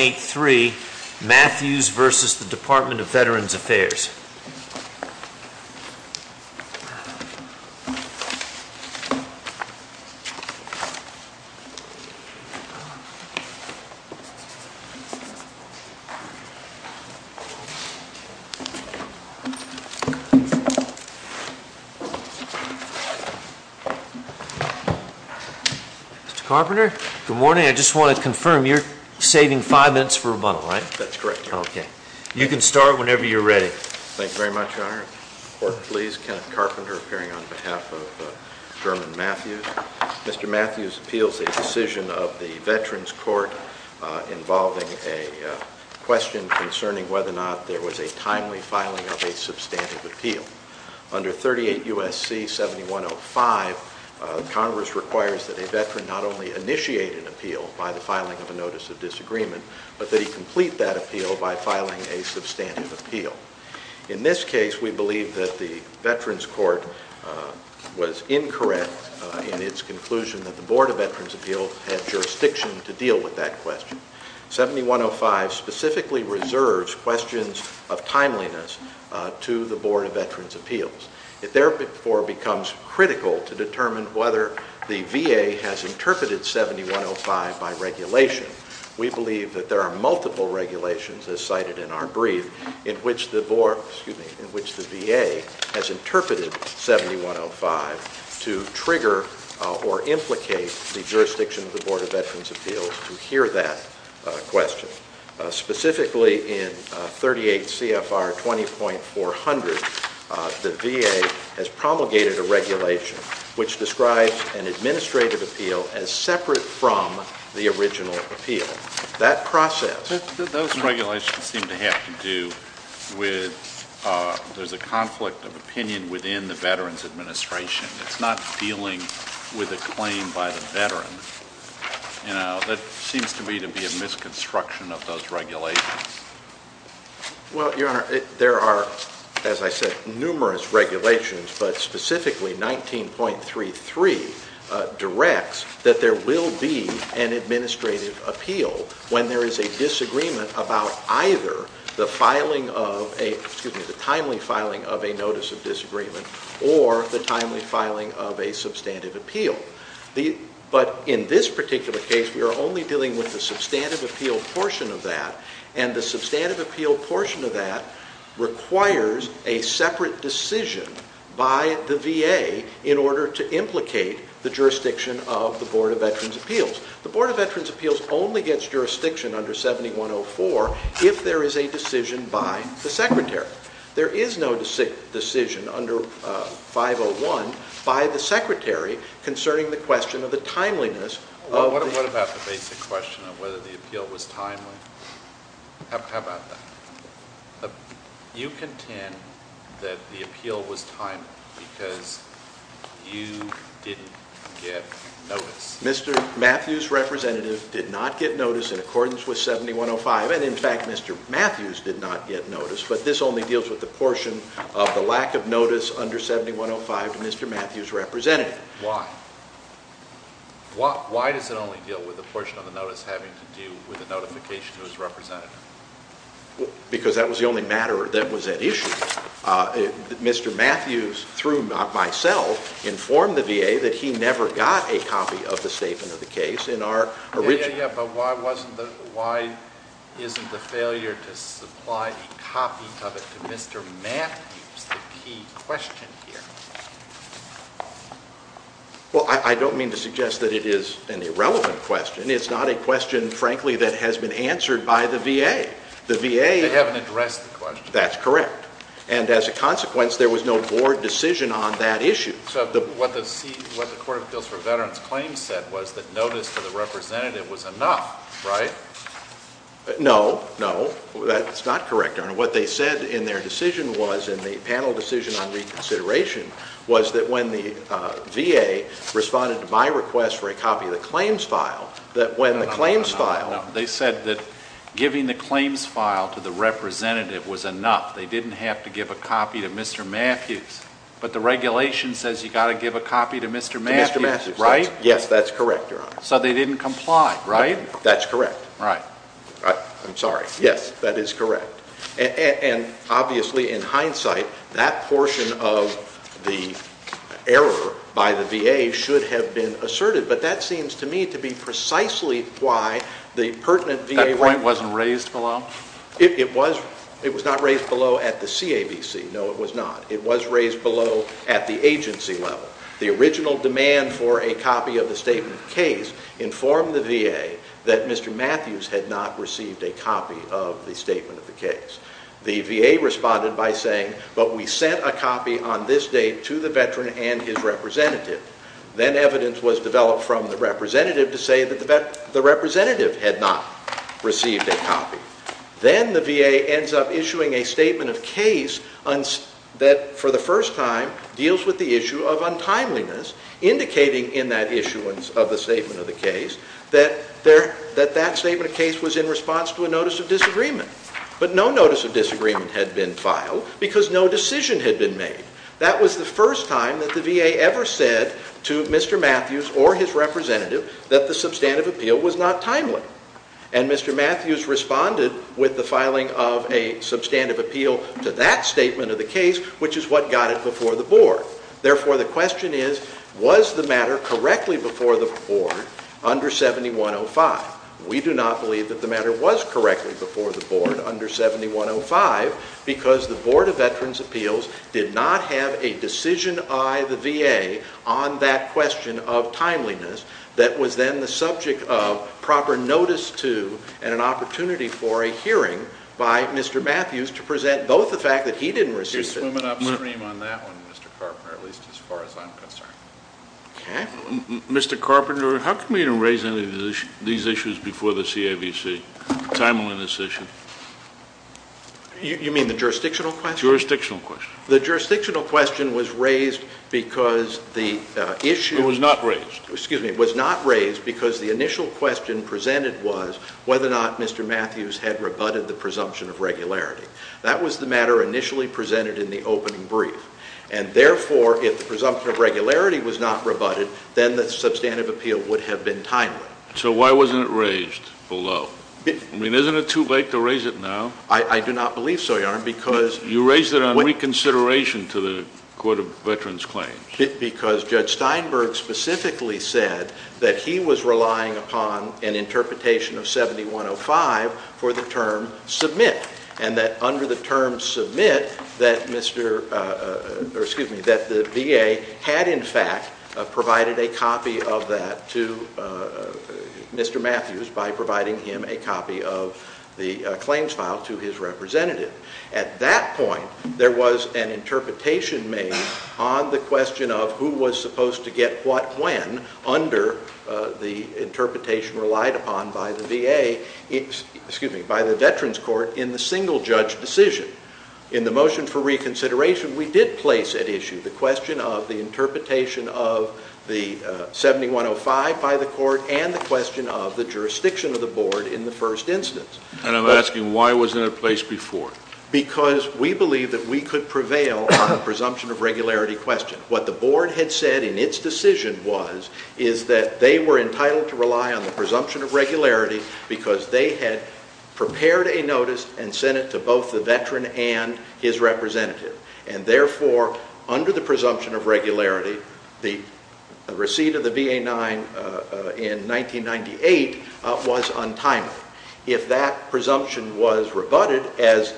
8-3, Matthews v. Department of Veterans Affairs. Mr. Carpenter? Good morning. I just want to confirm, you're saving five minutes for rebuttal, right? That's correct, Your Honor. Okay. You can start whenever you're ready. Thank you very much, Your Honor. Court, please. Kenneth Carpenter, appearing on behalf of German Matthews. Mr. Matthews appeals a decision of the Veterans Court involving a question concerning whether or not there was a timely filing of a substantive appeal. Under 38 U.S.C. 7105, Congress requires that a veteran not only initiate an appeal by the filing of a notice of disagreement, but that he complete that appeal by filing a substantive appeal. In this case, we believe that the Veterans Court was incorrect in its conclusion that the Board of Veterans Appeals had jurisdiction to deal with that question. 7105 specifically reserves questions of timeliness to the Board of Veterans Appeals. It therefore becomes critical to determine whether the VA has interpreted 7105 by regulation. We believe that there are multiple regulations as cited in our brief in which the VA has interpreted 7105 to trigger or implicate the jurisdiction of the Board of Veterans Appeals to hear that question. Specifically in 38 CFR 20.400, the VA has promulgated a regulation which describes an administrative appeal as separate from the original appeal. That process- Those regulations seem to have to do with there's a conflict of opinion within the Veterans Administration. It's not dealing with a claim by the veteran. You know, that seems to me to be a misconstruction of those regulations. Well, Your Honor, there are, as I said, numerous regulations, but specifically 19.33 directs that there will be an administrative appeal when there is a disagreement about either the filing of a, excuse me, the timely filing of a notice of disagreement or the timely filing of a substantive appeal. But in this particular case, we are only dealing with the substantive appeal portion of that, and the substantive appeal portion of that requires a separate decision by the VA in order to implicate the jurisdiction of the Board of Veterans Appeals. The Board of Veterans Appeals only gets jurisdiction under 7104 if there is a decision by the Secretary. There is no decision under 501 by the Secretary concerning the question of the timeliness of the- What about the basic question of whether the appeal was timely? How about that? You contend that the appeal was timely because you didn't get notice. Mr. Matthews' representative did not get notice in accordance with 7105, and in fact, Mr. Matthews did not get notice, but this only deals with the portion of the lack of notice under 7105 to Mr. Matthews' representative. Why? Why does it only deal with the portion of the notice having to do with the notification to his representative? Because that was the only matter that was at issue. Mr. Matthews, through myself, informed the VA that he never got a copy of the statement of the case in our original- Yeah, yeah, yeah, but why isn't the failure to supply a copy of it to Mr. Matthews the key question here? Well, I don't mean to suggest that it is an irrelevant question. It's not a question, frankly, that has been answered by the VA. The VA- They haven't addressed the question. That's correct, and as a consequence, there was no board decision on that issue. So what the Court of Appeals for Veterans Claims said was that notice to the representative was enough, right? No, no, that's not correct. What they said in their decision was, in the panel decision on reconsideration, was that when the VA responded to my request for a copy of the claims file, that when the claims file- No, they said that giving the claims file to the representative was enough. They didn't have to give a copy to Mr. Matthews, but the regulation says you've got to give a copy to Mr. Matthews, right? Yes, that's correct, Your Honor. So they didn't comply, right? That's correct. Right. I'm sorry. Yes, that is correct. And obviously, in hindsight, that portion of the error by the VA should have been asserted, but that seems to me to be precisely why the pertinent VA- That point wasn't raised below? It was not raised below at the CAVC. No, it was not. It was raised below at the agency level. The original demand for a copy of the statement of case informed the VA that Mr. Matthews had not received a copy of the statement of the case. The VA responded by saying, but we sent a copy on this date to the veteran and his representative. Then evidence was developed from the representative to say that the representative had not received a copy. Then the VA ends up issuing a statement of case that, for the first time, deals with the issue of untimeliness, indicating in that issuance of the statement of the case that that statement of case was in response to a notice of disagreement. But no notice of disagreement had been filed because no decision had been made. That was the first time that the VA ever said to Mr. Matthews or his representative that the substantive appeal was not timely. And Mr. Matthews responded with the filing of a substantive appeal to that statement of the case, which is what got it before the Board. Therefore, the question is, was the matter correctly before the Board under 7105? We do not believe that the matter was correctly before the Board under 7105 because the Board of Veterans' Appeals did not have a decision by the VA on that question of timeliness that was then the subject of proper notice to and an opportunity for a hearing by Mr. Matthews to present both the fact that he didn't receive it. It's swimming upstream on that one, Mr. Carpenter, at least as far as I'm concerned. Okay. Mr. Carpenter, how come you didn't raise any of these issues before the CAVC, the timeliness issue? You mean the jurisdictional question? Jurisdictional question. The jurisdictional question was raised because the issue... It was not raised. Excuse me. It was not raised because the initial question presented was whether or not Mr. Matthews had rebutted the presumption of regularity. That was the matter initially presented in the opening brief. And therefore, if the presumption of regularity was not rebutted, then the substantive appeal would have been timely. So why wasn't it raised below? I mean, isn't it too late to raise it now? I do not believe so, Your Honor, because... You raised it on reconsideration to the Court of Veterans Claims. Because Judge Steinberg specifically said that he was relying upon an interpretation of 7105 for the term submit, and that under the term submit that the VA had in fact provided a copy of that to Mr. Matthews by providing him a copy of the claims file to his representative. At that point, there was an interpretation made on the question of who was supposed to get what when under the interpretation relied upon by the VA, excuse me, by the Veterans Court in the single-judge decision. In the motion for reconsideration, we did place at issue the question of the interpretation of the 7105 by the court and the question of the jurisdiction of the board in the first instance. And I'm asking, why wasn't it placed before? Because we believed that we could prevail on the presumption of regularity question. What the board had said in its decision was, is that they were entitled to rely on the presumption of regularity because they had prepared a notice and sent it to both the veteran and his representative. And therefore, under the presumption of regularity, the receipt of the VA-9 in 1998 was untimely. If that presumption was rebutted as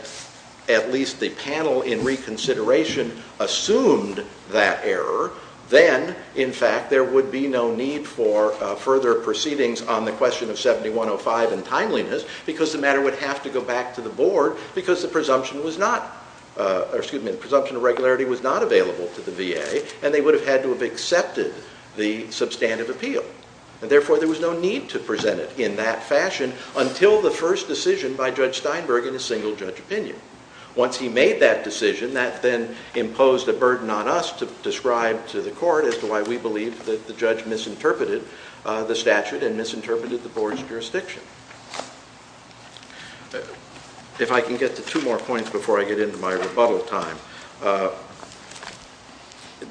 at least the panel in reconsideration assumed that error, then in fact there would be no need for further proceedings on the question of 7105 and timeliness because the matter would have to go back to the board because the presumption of regularity was not available to the VA and they would have had to have accepted the substantive appeal. And therefore, there was no need to present it in that fashion until the first decision by Judge Steinberg in a single judge opinion. Once he made that decision, that then imposed a burden on us to describe to the court as to why we believe that the judge misinterpreted the statute and misinterpreted the board's jurisdiction. If I can get to two more points before I get into my rebuttal time,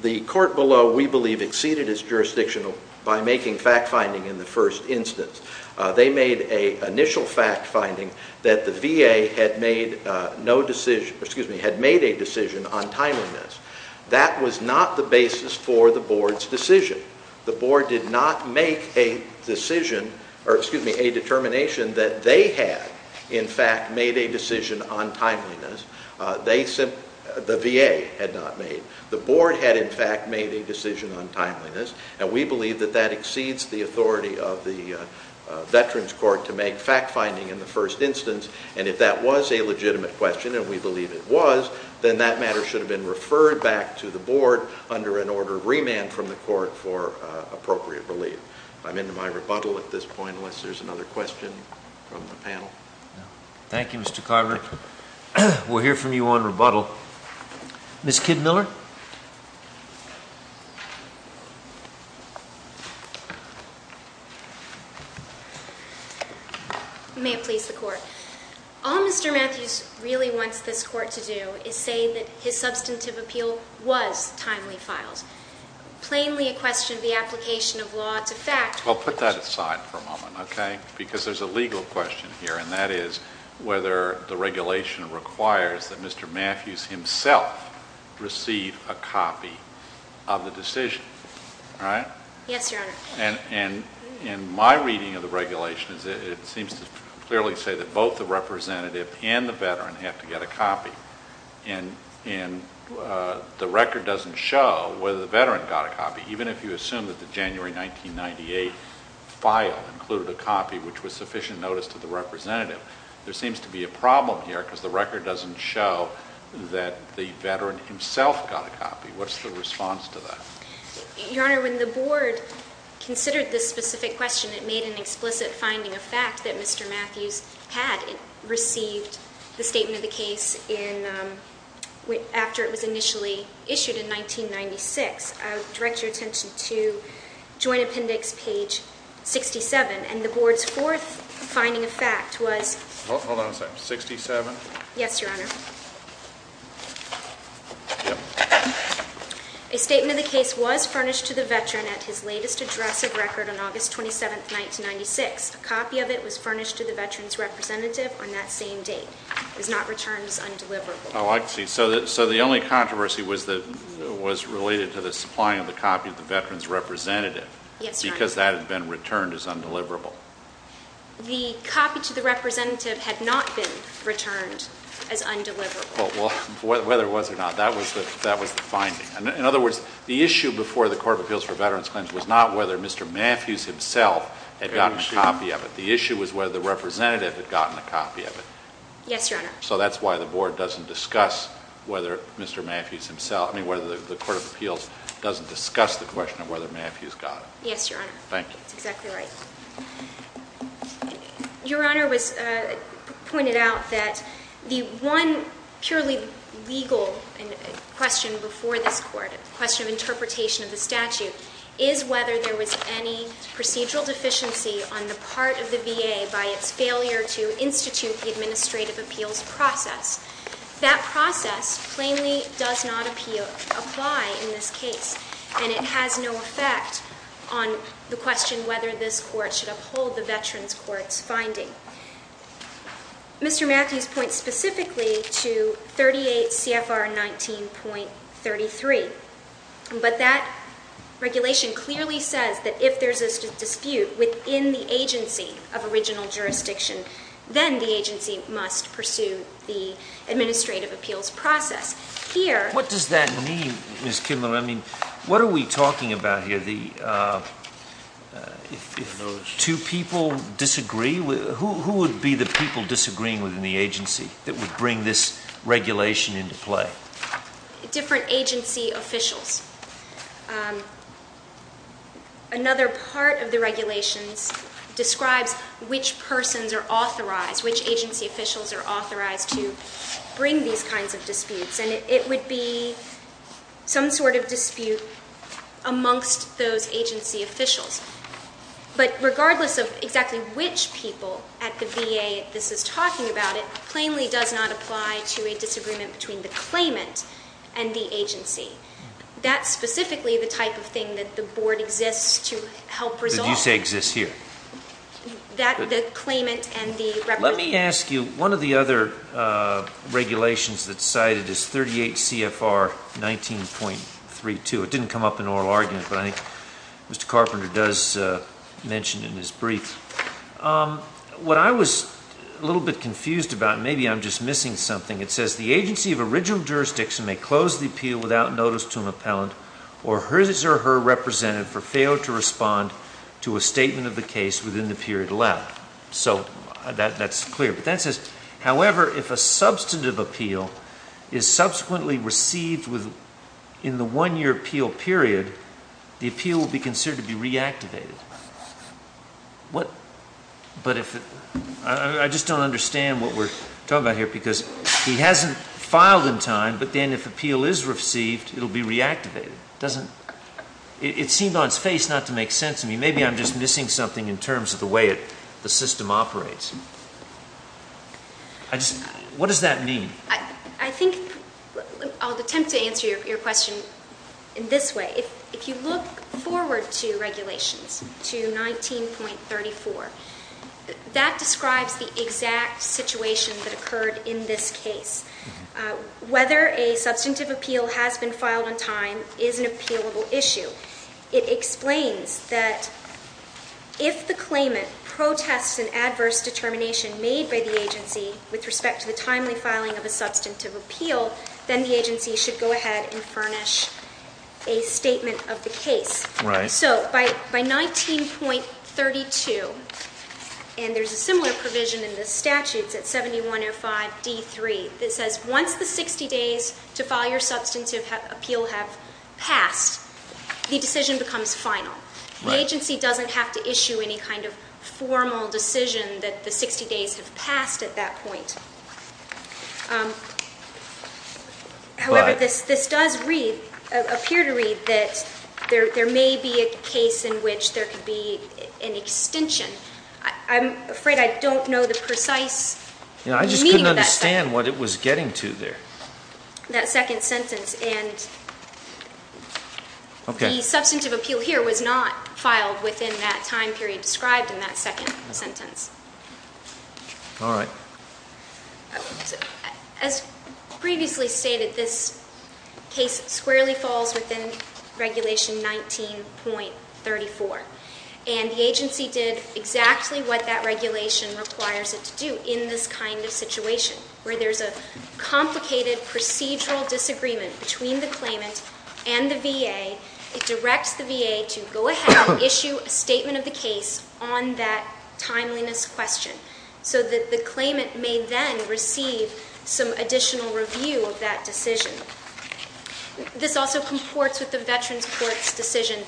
the court below, we believe, exceeded its jurisdiction by making fact-finding in the first instance. They made an initial fact-finding that the VA had made a decision on timeliness. That was not the basis for the board's decision. The board did not make a determination that they had, in fact, made a decision on timeliness. The VA had not made. The board had, in fact, made a decision on timeliness, and we believe that that exceeds the authority of the Veterans Court to make fact-finding in the first instance. And if that was a legitimate question, and we believe it was, then that matter should have been referred back to the board under an order of remand from the court for appropriate relief. I'm into my rebuttal at this point unless there's another question from the panel. Thank you, Mr. Kotler. We'll hear from you on rebuttal. Ms. Kidd-Miller? May it please the Court. All Mr. Matthews really wants this Court to do is say that his substantive appeal was timely filed. Plainly a question of the application of law to fact. Well, put that aside for a moment, okay? Because there's a legal question here, and that is whether the regulation requires that Mr. Matthews himself receive a copy of the decision. All right? Yes, Your Honor. And in my reading of the regulation, it seems to clearly say that both the representative and the veteran have to get a copy. And the record doesn't show whether the veteran got a copy, even if you assume that the January 1998 file included a copy which was sufficient notice to the representative. There seems to be a problem here because the record doesn't show that the veteran himself got a copy. What's the response to that? Your Honor, when the board considered this specific question, it made an explicit finding of fact that Mr. Matthews had received the statement of the case after it was initially issued in 1996. I would direct your attention to Joint Appendix page 67. And the board's fourth finding of fact was... Hold on a second. 67? Yes, Your Honor. A statement of the case was furnished to the veteran at his latest address of record on August 27, 1996. A copy of it was furnished to the veteran's representative on that same date. It was not returned as undeliverable. Oh, I see. So the only controversy was related to the supplying of the copy to the veteran's representative. Yes, Your Honor. Because that had been returned as undeliverable. The copy to the representative had not been returned as undeliverable. Well, whether it was or not, that was the finding. In other words, the issue before the Court of Appeals for Veterans Claims was not whether Mr. Matthews himself had gotten a copy of it. The issue was whether the representative had gotten a copy of it. Yes, Your Honor. So that's why the board doesn't discuss whether Mr. Matthews himself... I mean, whether the Court of Appeals doesn't discuss the question of whether Matthews got it. Yes, Your Honor. Thank you. That's exactly right. Your Honor pointed out that the one purely legal question before this Court, a question of interpretation of the statute, is whether there was any procedural deficiency on the part of the VA by its failure to institute the administrative appeals process. That process plainly does not apply in this case, and it has no effect on the question whether this Court should uphold the Veterans Court's finding. Mr. Matthews points specifically to 38 CFR 19.33. But that regulation clearly says that if there's a dispute within the agency of original jurisdiction, then the agency must pursue the administrative appeals process. Here... What does that mean, Ms. Kidman? I mean, what are we talking about here? If two people disagree, who would be the people disagreeing within the agency that would bring this regulation into play? Different agency officials. Another part of the regulations describes which persons are authorized, which agency officials are authorized to bring these kinds of disputes, and it would be some sort of dispute amongst those agency officials. But regardless of exactly which people at the VA this is talking about, it plainly does not apply to a disagreement between the claimant and the agency. That's specifically the type of thing that the Board exists to help resolve. Did you say exists here? The claimant and the representative. Let me ask you, one of the other regulations that's cited is 38 CFR 19.32. It didn't come up in oral argument, but I think Mr. Carpenter does mention it in his brief. What I was a little bit confused about, maybe I'm just missing something, it says the agency of original jurisdiction may close the appeal without notice to an appellant or his or her representative for failure to respond to a statement of the case within the period allowed. So that's clear. But that says, however, if a substantive appeal is subsequently received in the one-year appeal period, the appeal will be considered to be reactivated. I just don't understand what we're talking about here because he hasn't filed in time, but then if appeal is received, it will be reactivated. It seemed on its face not to make sense to me. Maybe I'm just missing something in terms of the way the system operates. What does that mean? I think I'll attempt to answer your question in this way. If you look forward to regulations to 19.34, that describes the exact situation that occurred in this case. Whether a substantive appeal has been filed on time is an appealable issue. It explains that if the claimant protests an adverse determination made by the agency with respect to the timely filing of a substantive appeal, then the agency should go ahead and furnish a statement of the case. So by 19.32, and there's a similar provision in the statutes at 7105D3, that says once the 60 days to file your substantive appeal have passed, the decision becomes final. The agency doesn't have to issue any kind of formal decision that the 60 days have passed at that point. However, this does appear to read that there may be a case in which there could be an extension. I'm afraid I don't know the precise meaning of that sentence. I just couldn't understand what it was getting to there. That second sentence, and the substantive appeal here was not filed within that time period described in that second sentence. All right. As previously stated, this case squarely falls within regulation 19.34, and the agency did exactly what that regulation requires it to do in this kind of situation, where there's a complicated procedural disagreement between the claimant and the VA. It directs the VA to go ahead and issue a statement of the case on that timeliness question, so that the claimant may then receive some additional review of that decision. This also comports with the Veterans Court's decision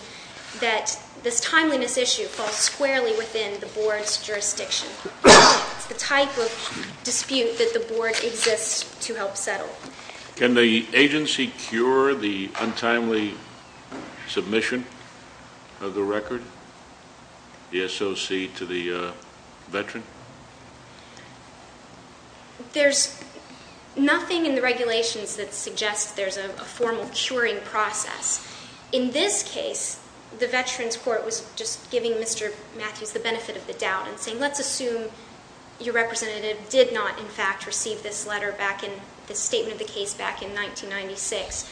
that this timeliness issue falls squarely within the board's jurisdiction. It's the type of dispute that the board exists to help settle. Can the agency cure the untimely submission of the record, the SOC, to the veteran? There's nothing in the regulations that suggests there's a formal curing process. In this case, the Veterans Court was just giving Mr. Matthews the benefit of the doubt and saying let's assume your representative did not, in fact, receive this letter back in the statement of the case back in 1996.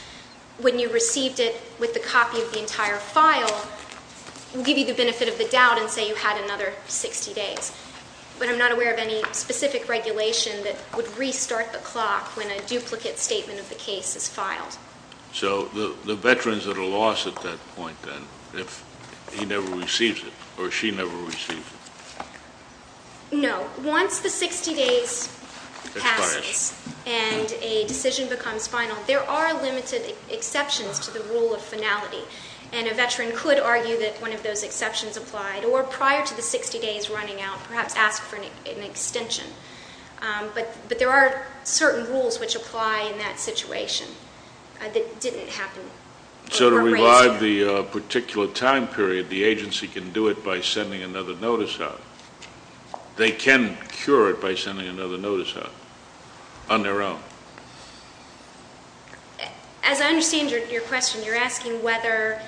When you received it with the copy of the entire file, we'll give you the benefit of the doubt and say you had another 60 days. But I'm not aware of any specific regulation that would restart the clock when a duplicate statement of the case is filed. So the veteran's at a loss at that point, then, if he never receives it or she never receives it. No. Once the 60 days passes and a decision becomes final, there are limited exceptions to the rule of finality, and a veteran could argue that one of those exceptions applied, or prior to the 60 days running out, perhaps ask for an extension. But there are certain rules which apply in that situation that didn't happen. So to revive the particular time period, the agency can do it by sending another notice out. They can cure it by sending another notice out on their own. As I understand your question, you're asking whether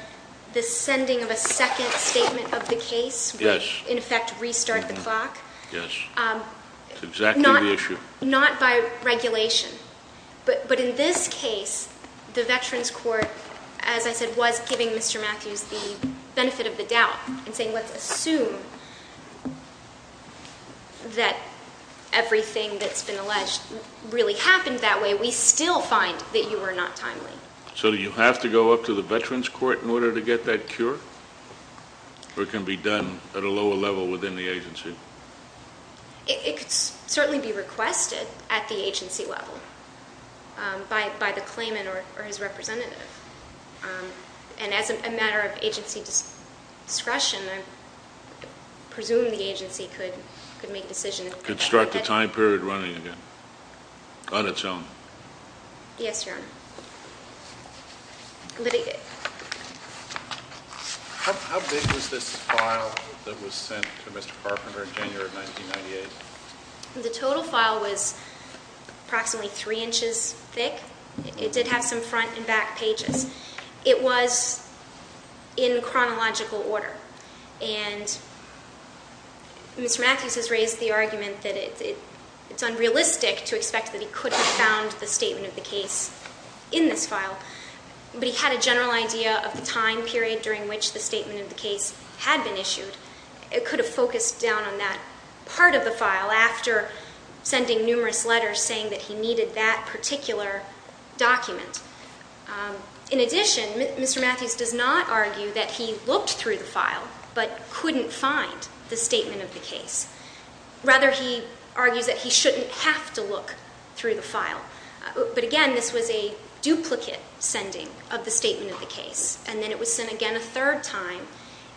the sending of a second statement of the case would, in effect, restart the clock? Yes. That's exactly the issue. Not by regulation. But in this case, the Veterans Court, as I said, was giving Mr. Matthews the benefit of the doubt and saying let's assume that everything that's been alleged really happened that way. We still find that you were not timely. So do you have to go up to the Veterans Court in order to get that cure? Or it can be done at a lower level within the agency? It could certainly be requested at the agency level by the claimant or his representative. And as a matter of agency discretion, I presume the agency could make a decision. Construct a time period running again on its own. Yes, Your Honor. How big was this file that was sent to Mr. Carpenter in January of 1998? The total file was approximately three inches thick. It did have some front and back pages. It was in chronological order. And Mr. Matthews has raised the argument that it's unrealistic to expect that he could have found the statement of the case in this file. But he had a general idea of the time period during which the statement of the case had been issued. It could have focused down on that part of the file after sending numerous letters saying that he needed that particular document. In addition, Mr. Matthews does not argue that he looked through the file but couldn't find the statement of the case. Rather, he argues that he shouldn't have to look through the file. But again, this was a duplicate sending of the statement of the case. And then it was sent again a third time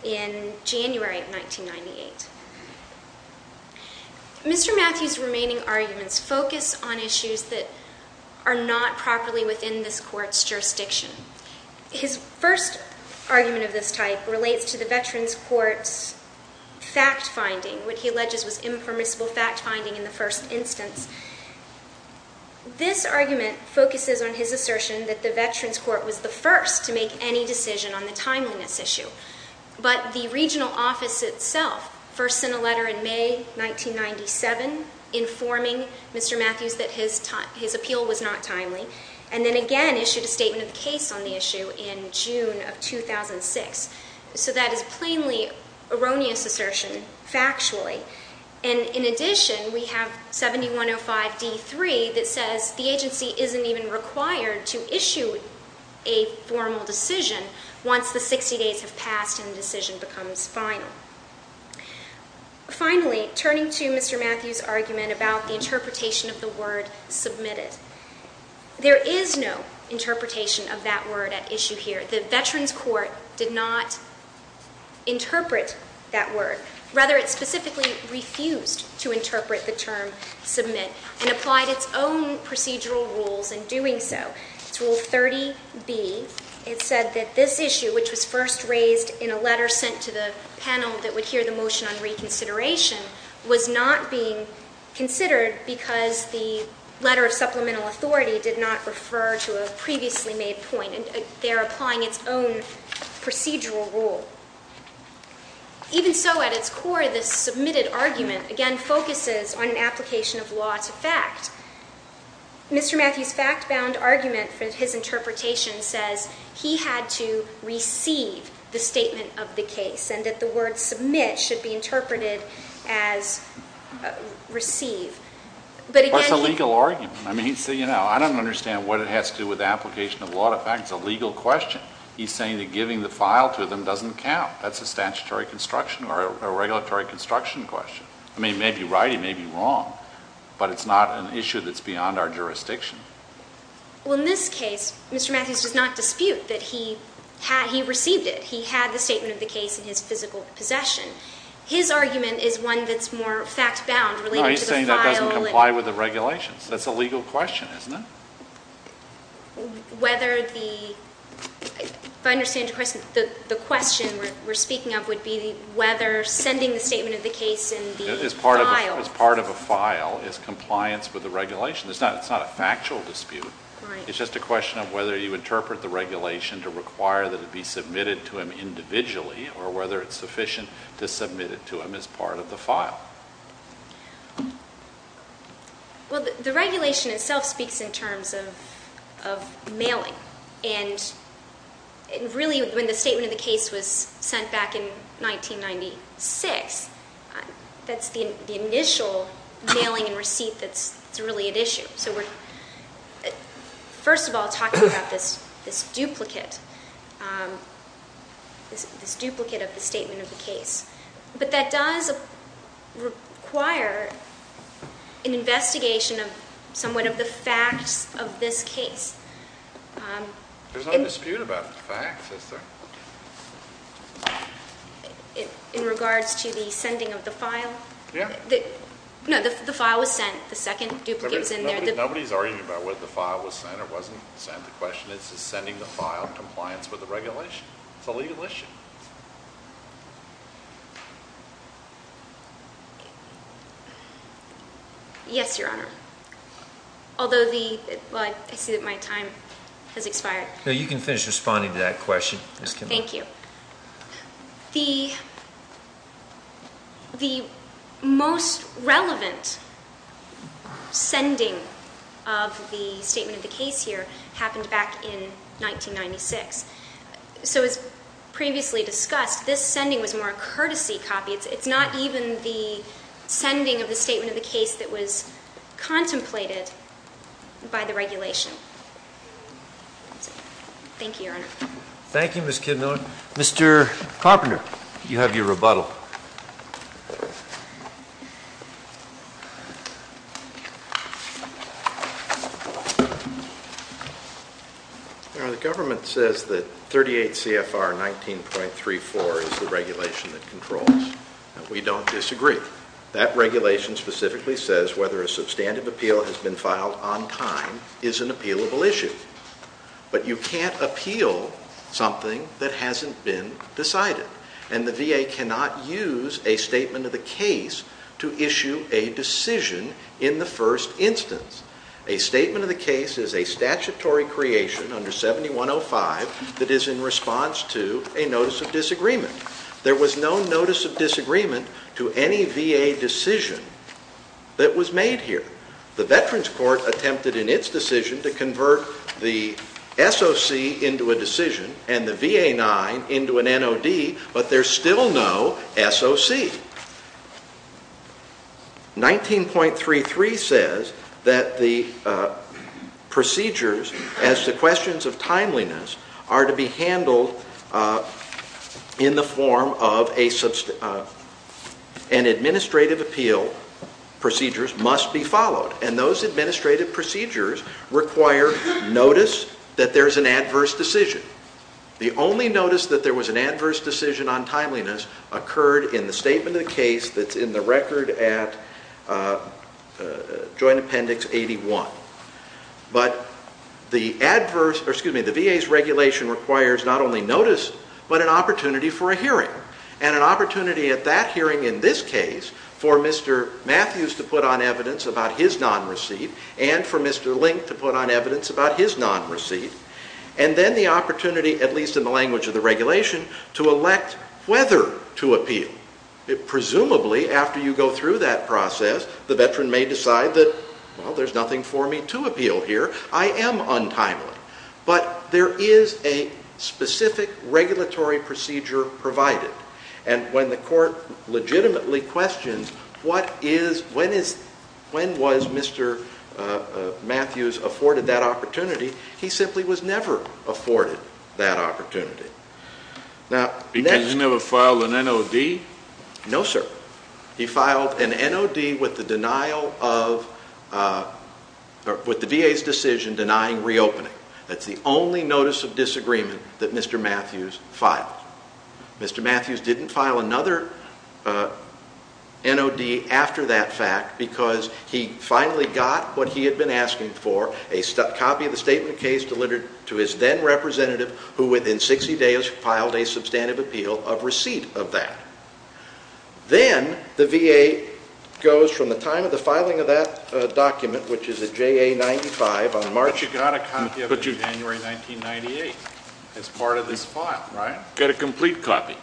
in January of 1998. Mr. Matthews' remaining arguments focus on issues that are not properly within this Court's jurisdiction. His first argument of this type relates to the Veterans Court's fact-finding, what he alleges was impermissible fact-finding in the first instance. This argument focuses on his assertion that the Veterans Court was the first to make any decision on the timeliness issue. But the regional office itself first sent a letter in May 1997 informing Mr. Matthews that his appeal was not timely, and then again issued a statement of the case on the issue in June of 2006. So that is plainly erroneous assertion, factually. And in addition, we have 7105d3 that says the agency isn't even required to issue a formal decision once the 60 days have passed and the decision becomes final. Finally, turning to Mr. Matthews' argument about the interpretation of the word submitted, there is no interpretation of that word at issue here. The Veterans Court did not interpret that word. Rather, it specifically refused to interpret the term submit and applied its own procedural rules in doing so. It's Rule 30b. It said that this issue, which was first raised in a letter sent to the panel that would hear the motion on reconsideration, was not being considered because the letter of supplemental authority did not refer to a previously made point. They're applying its own procedural rule. Even so, at its core, this submitted argument, again, focuses on an application of law to fact. Mr. Matthews' fact-bound argument for his interpretation says he had to receive the statement of the case and that the word submit should be interpreted as receive. What's the legal argument? I don't understand what it has to do with the application of law to fact. It's a legal question. He's saying that giving the file to them doesn't count. That's a statutory construction or a regulatory construction question. I mean, he may be right, he may be wrong, but it's not an issue that's beyond our jurisdiction. Well, in this case, Mr. Matthews does not dispute that he received it. He had the statement of the case in his physical possession. His argument is one that's more fact-bound related to the file. No, he's saying that doesn't comply with the regulations. That's a legal question, isn't it? Whether the... If I understand your question, the question we're speaking of would be whether sending the statement of the case in the file. As part of a file is compliance with the regulation. It's not a factual dispute. It's just a question of whether you interpret the regulation to require that it be submitted to him individually Well, the regulation itself speaks in terms of mailing. And really, when the statement of the case was sent back in 1996, that's the initial mailing and receipt that's really at issue. So we're, first of all, talking about this duplicate, this duplicate of the statement of the case. But that does require an investigation of somewhat of the facts of this case. There's no dispute about the facts, is there? In regards to the sending of the file? Yeah. No, the file was sent. The second duplicate was in there. Nobody's arguing about whether the file was sent or wasn't sent. The question is, is sending the file compliance with the regulation? It's a legal issue. Yes, Your Honor. Although the, well, I see that my time has expired. No, you can finish responding to that question, Ms. Kimball. Thank you. The most relevant sending of the statement of the case here happened back in 1996. So, as previously discussed, this sending was more a courtesy copy. It's not even the sending of the statement of the case that was contemplated by the regulation. Thank you, Your Honor. Thank you, Ms. Kidman. Mr. Carpenter, you have your rebuttal. Your Honor, the government says that 38 CFR 19.34 is the regulation that controls. We don't disagree. That regulation specifically says whether a substantive appeal has been filed on time is an appealable issue. But you can't appeal something that hasn't been decided. And the VA cannot use a statement of the case to issue a decision in the first instance. A statement of the case is a statutory creation under 7105 that is in response to a notice of disagreement. There was no notice of disagreement to any VA decision that was made here. The Veterans Court attempted in its decision to convert the SOC into a decision and the VA-9 into an NOD, but there's still no SOC. 19.33 says that the procedures as to questions of timeliness are to be handled in the form of an administrative appeal. Procedures must be followed. And those administrative procedures require notice that there's an adverse decision. The only notice that there was an adverse decision on timeliness occurred in the statement of the case that's in the record at Joint Appendix 81. But the VA's regulation requires not only notice, but an opportunity for a hearing. And an opportunity at that hearing in this case for Mr. Matthews to put on evidence about his non-receipt and for Mr. Link to put on evidence about his non-receipt. And then the opportunity, at least in the language of the regulation, to elect whether to appeal. Presumably, after you go through that process, the Veteran may decide that, well, there's nothing for me to appeal here. I am untimely. But there is a specific regulatory procedure provided. And when the court legitimately questions when was Mr. Matthews afforded that opportunity, he simply was never afforded that opportunity. Because he never filed an NOD? No, sir. He filed an NOD with the VA's decision denying reopening. That's the only notice of disagreement that Mr. Matthews filed. Mr. Matthews didn't file another NOD after that fact because he finally got what he had been asking for, a copy of the statement of case delivered to his then-representative, who within 60 days filed a substantive appeal of receipt of that. Then the VA goes from the time of the filing of that document, which is at JA 95 on March... But you got a copy of it in January 1998 as part of this file, right? Got a complete copy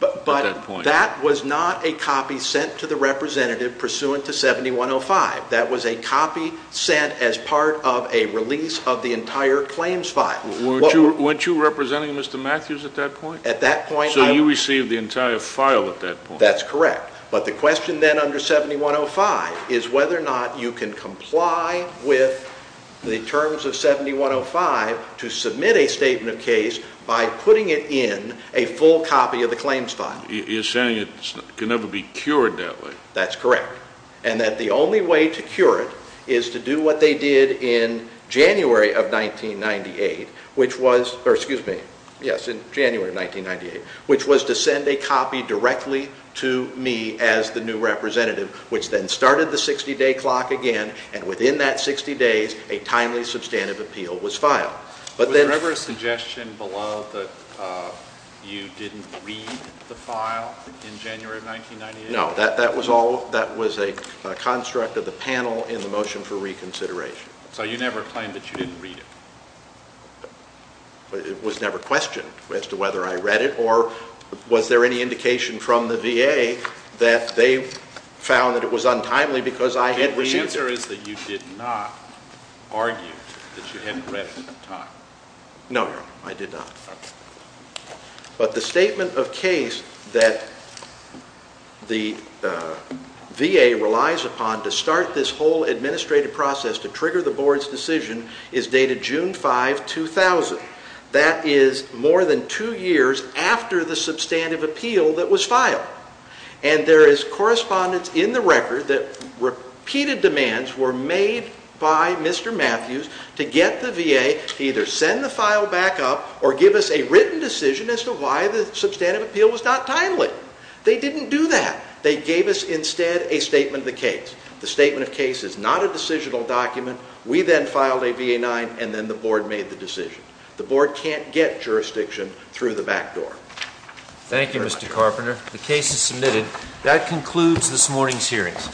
at that point. But that was not a copy sent to the representative pursuant to 7105. That was a copy sent as part of a release of the entire claims file. Weren't you representing Mr. Matthews at that point? At that point, I... So you received the entire file at that point? That's correct. But the question then under 7105 is whether or not you can comply with the terms of 7105 to submit a statement of case by putting it in a full copy of the claims file. You're saying it can never be cured that way? That's correct. And that the only way to cure it is to do what they did in January of 1998, which was to send a copy directly to me as the new representative, which then started the 60-day clock again. And within that 60 days, a timely substantive appeal was filed. Was there ever a suggestion below that you didn't read the file in January of 1998? No, that was a construct of the panel in the motion for reconsideration. So you never claimed that you didn't read it? It was never questioned as to whether I read it or was there any indication from the VA that they found that it was untimely because I had received it? The answer is that you did not argue that you hadn't read it in time. No, no, I did not. But the statement of case that the VA relies upon to start this whole administrative process to trigger the board's decision is dated June 5, 2000. That is more than two years after the substantive appeal that was filed. And there is correspondence in the record that repeated demands were made by Mr. Matthews to get the VA to either send the file back up or give us a written decision as to why the substantive appeal was not timely. They didn't do that. They gave us instead a statement of the case. The statement of case is not a decisional document. We then filed a VA-9, and then the board made the decision. The board can't get jurisdiction through the back door. Thank you, Mr. Carpenter. The case is submitted. That concludes this morning's hearings.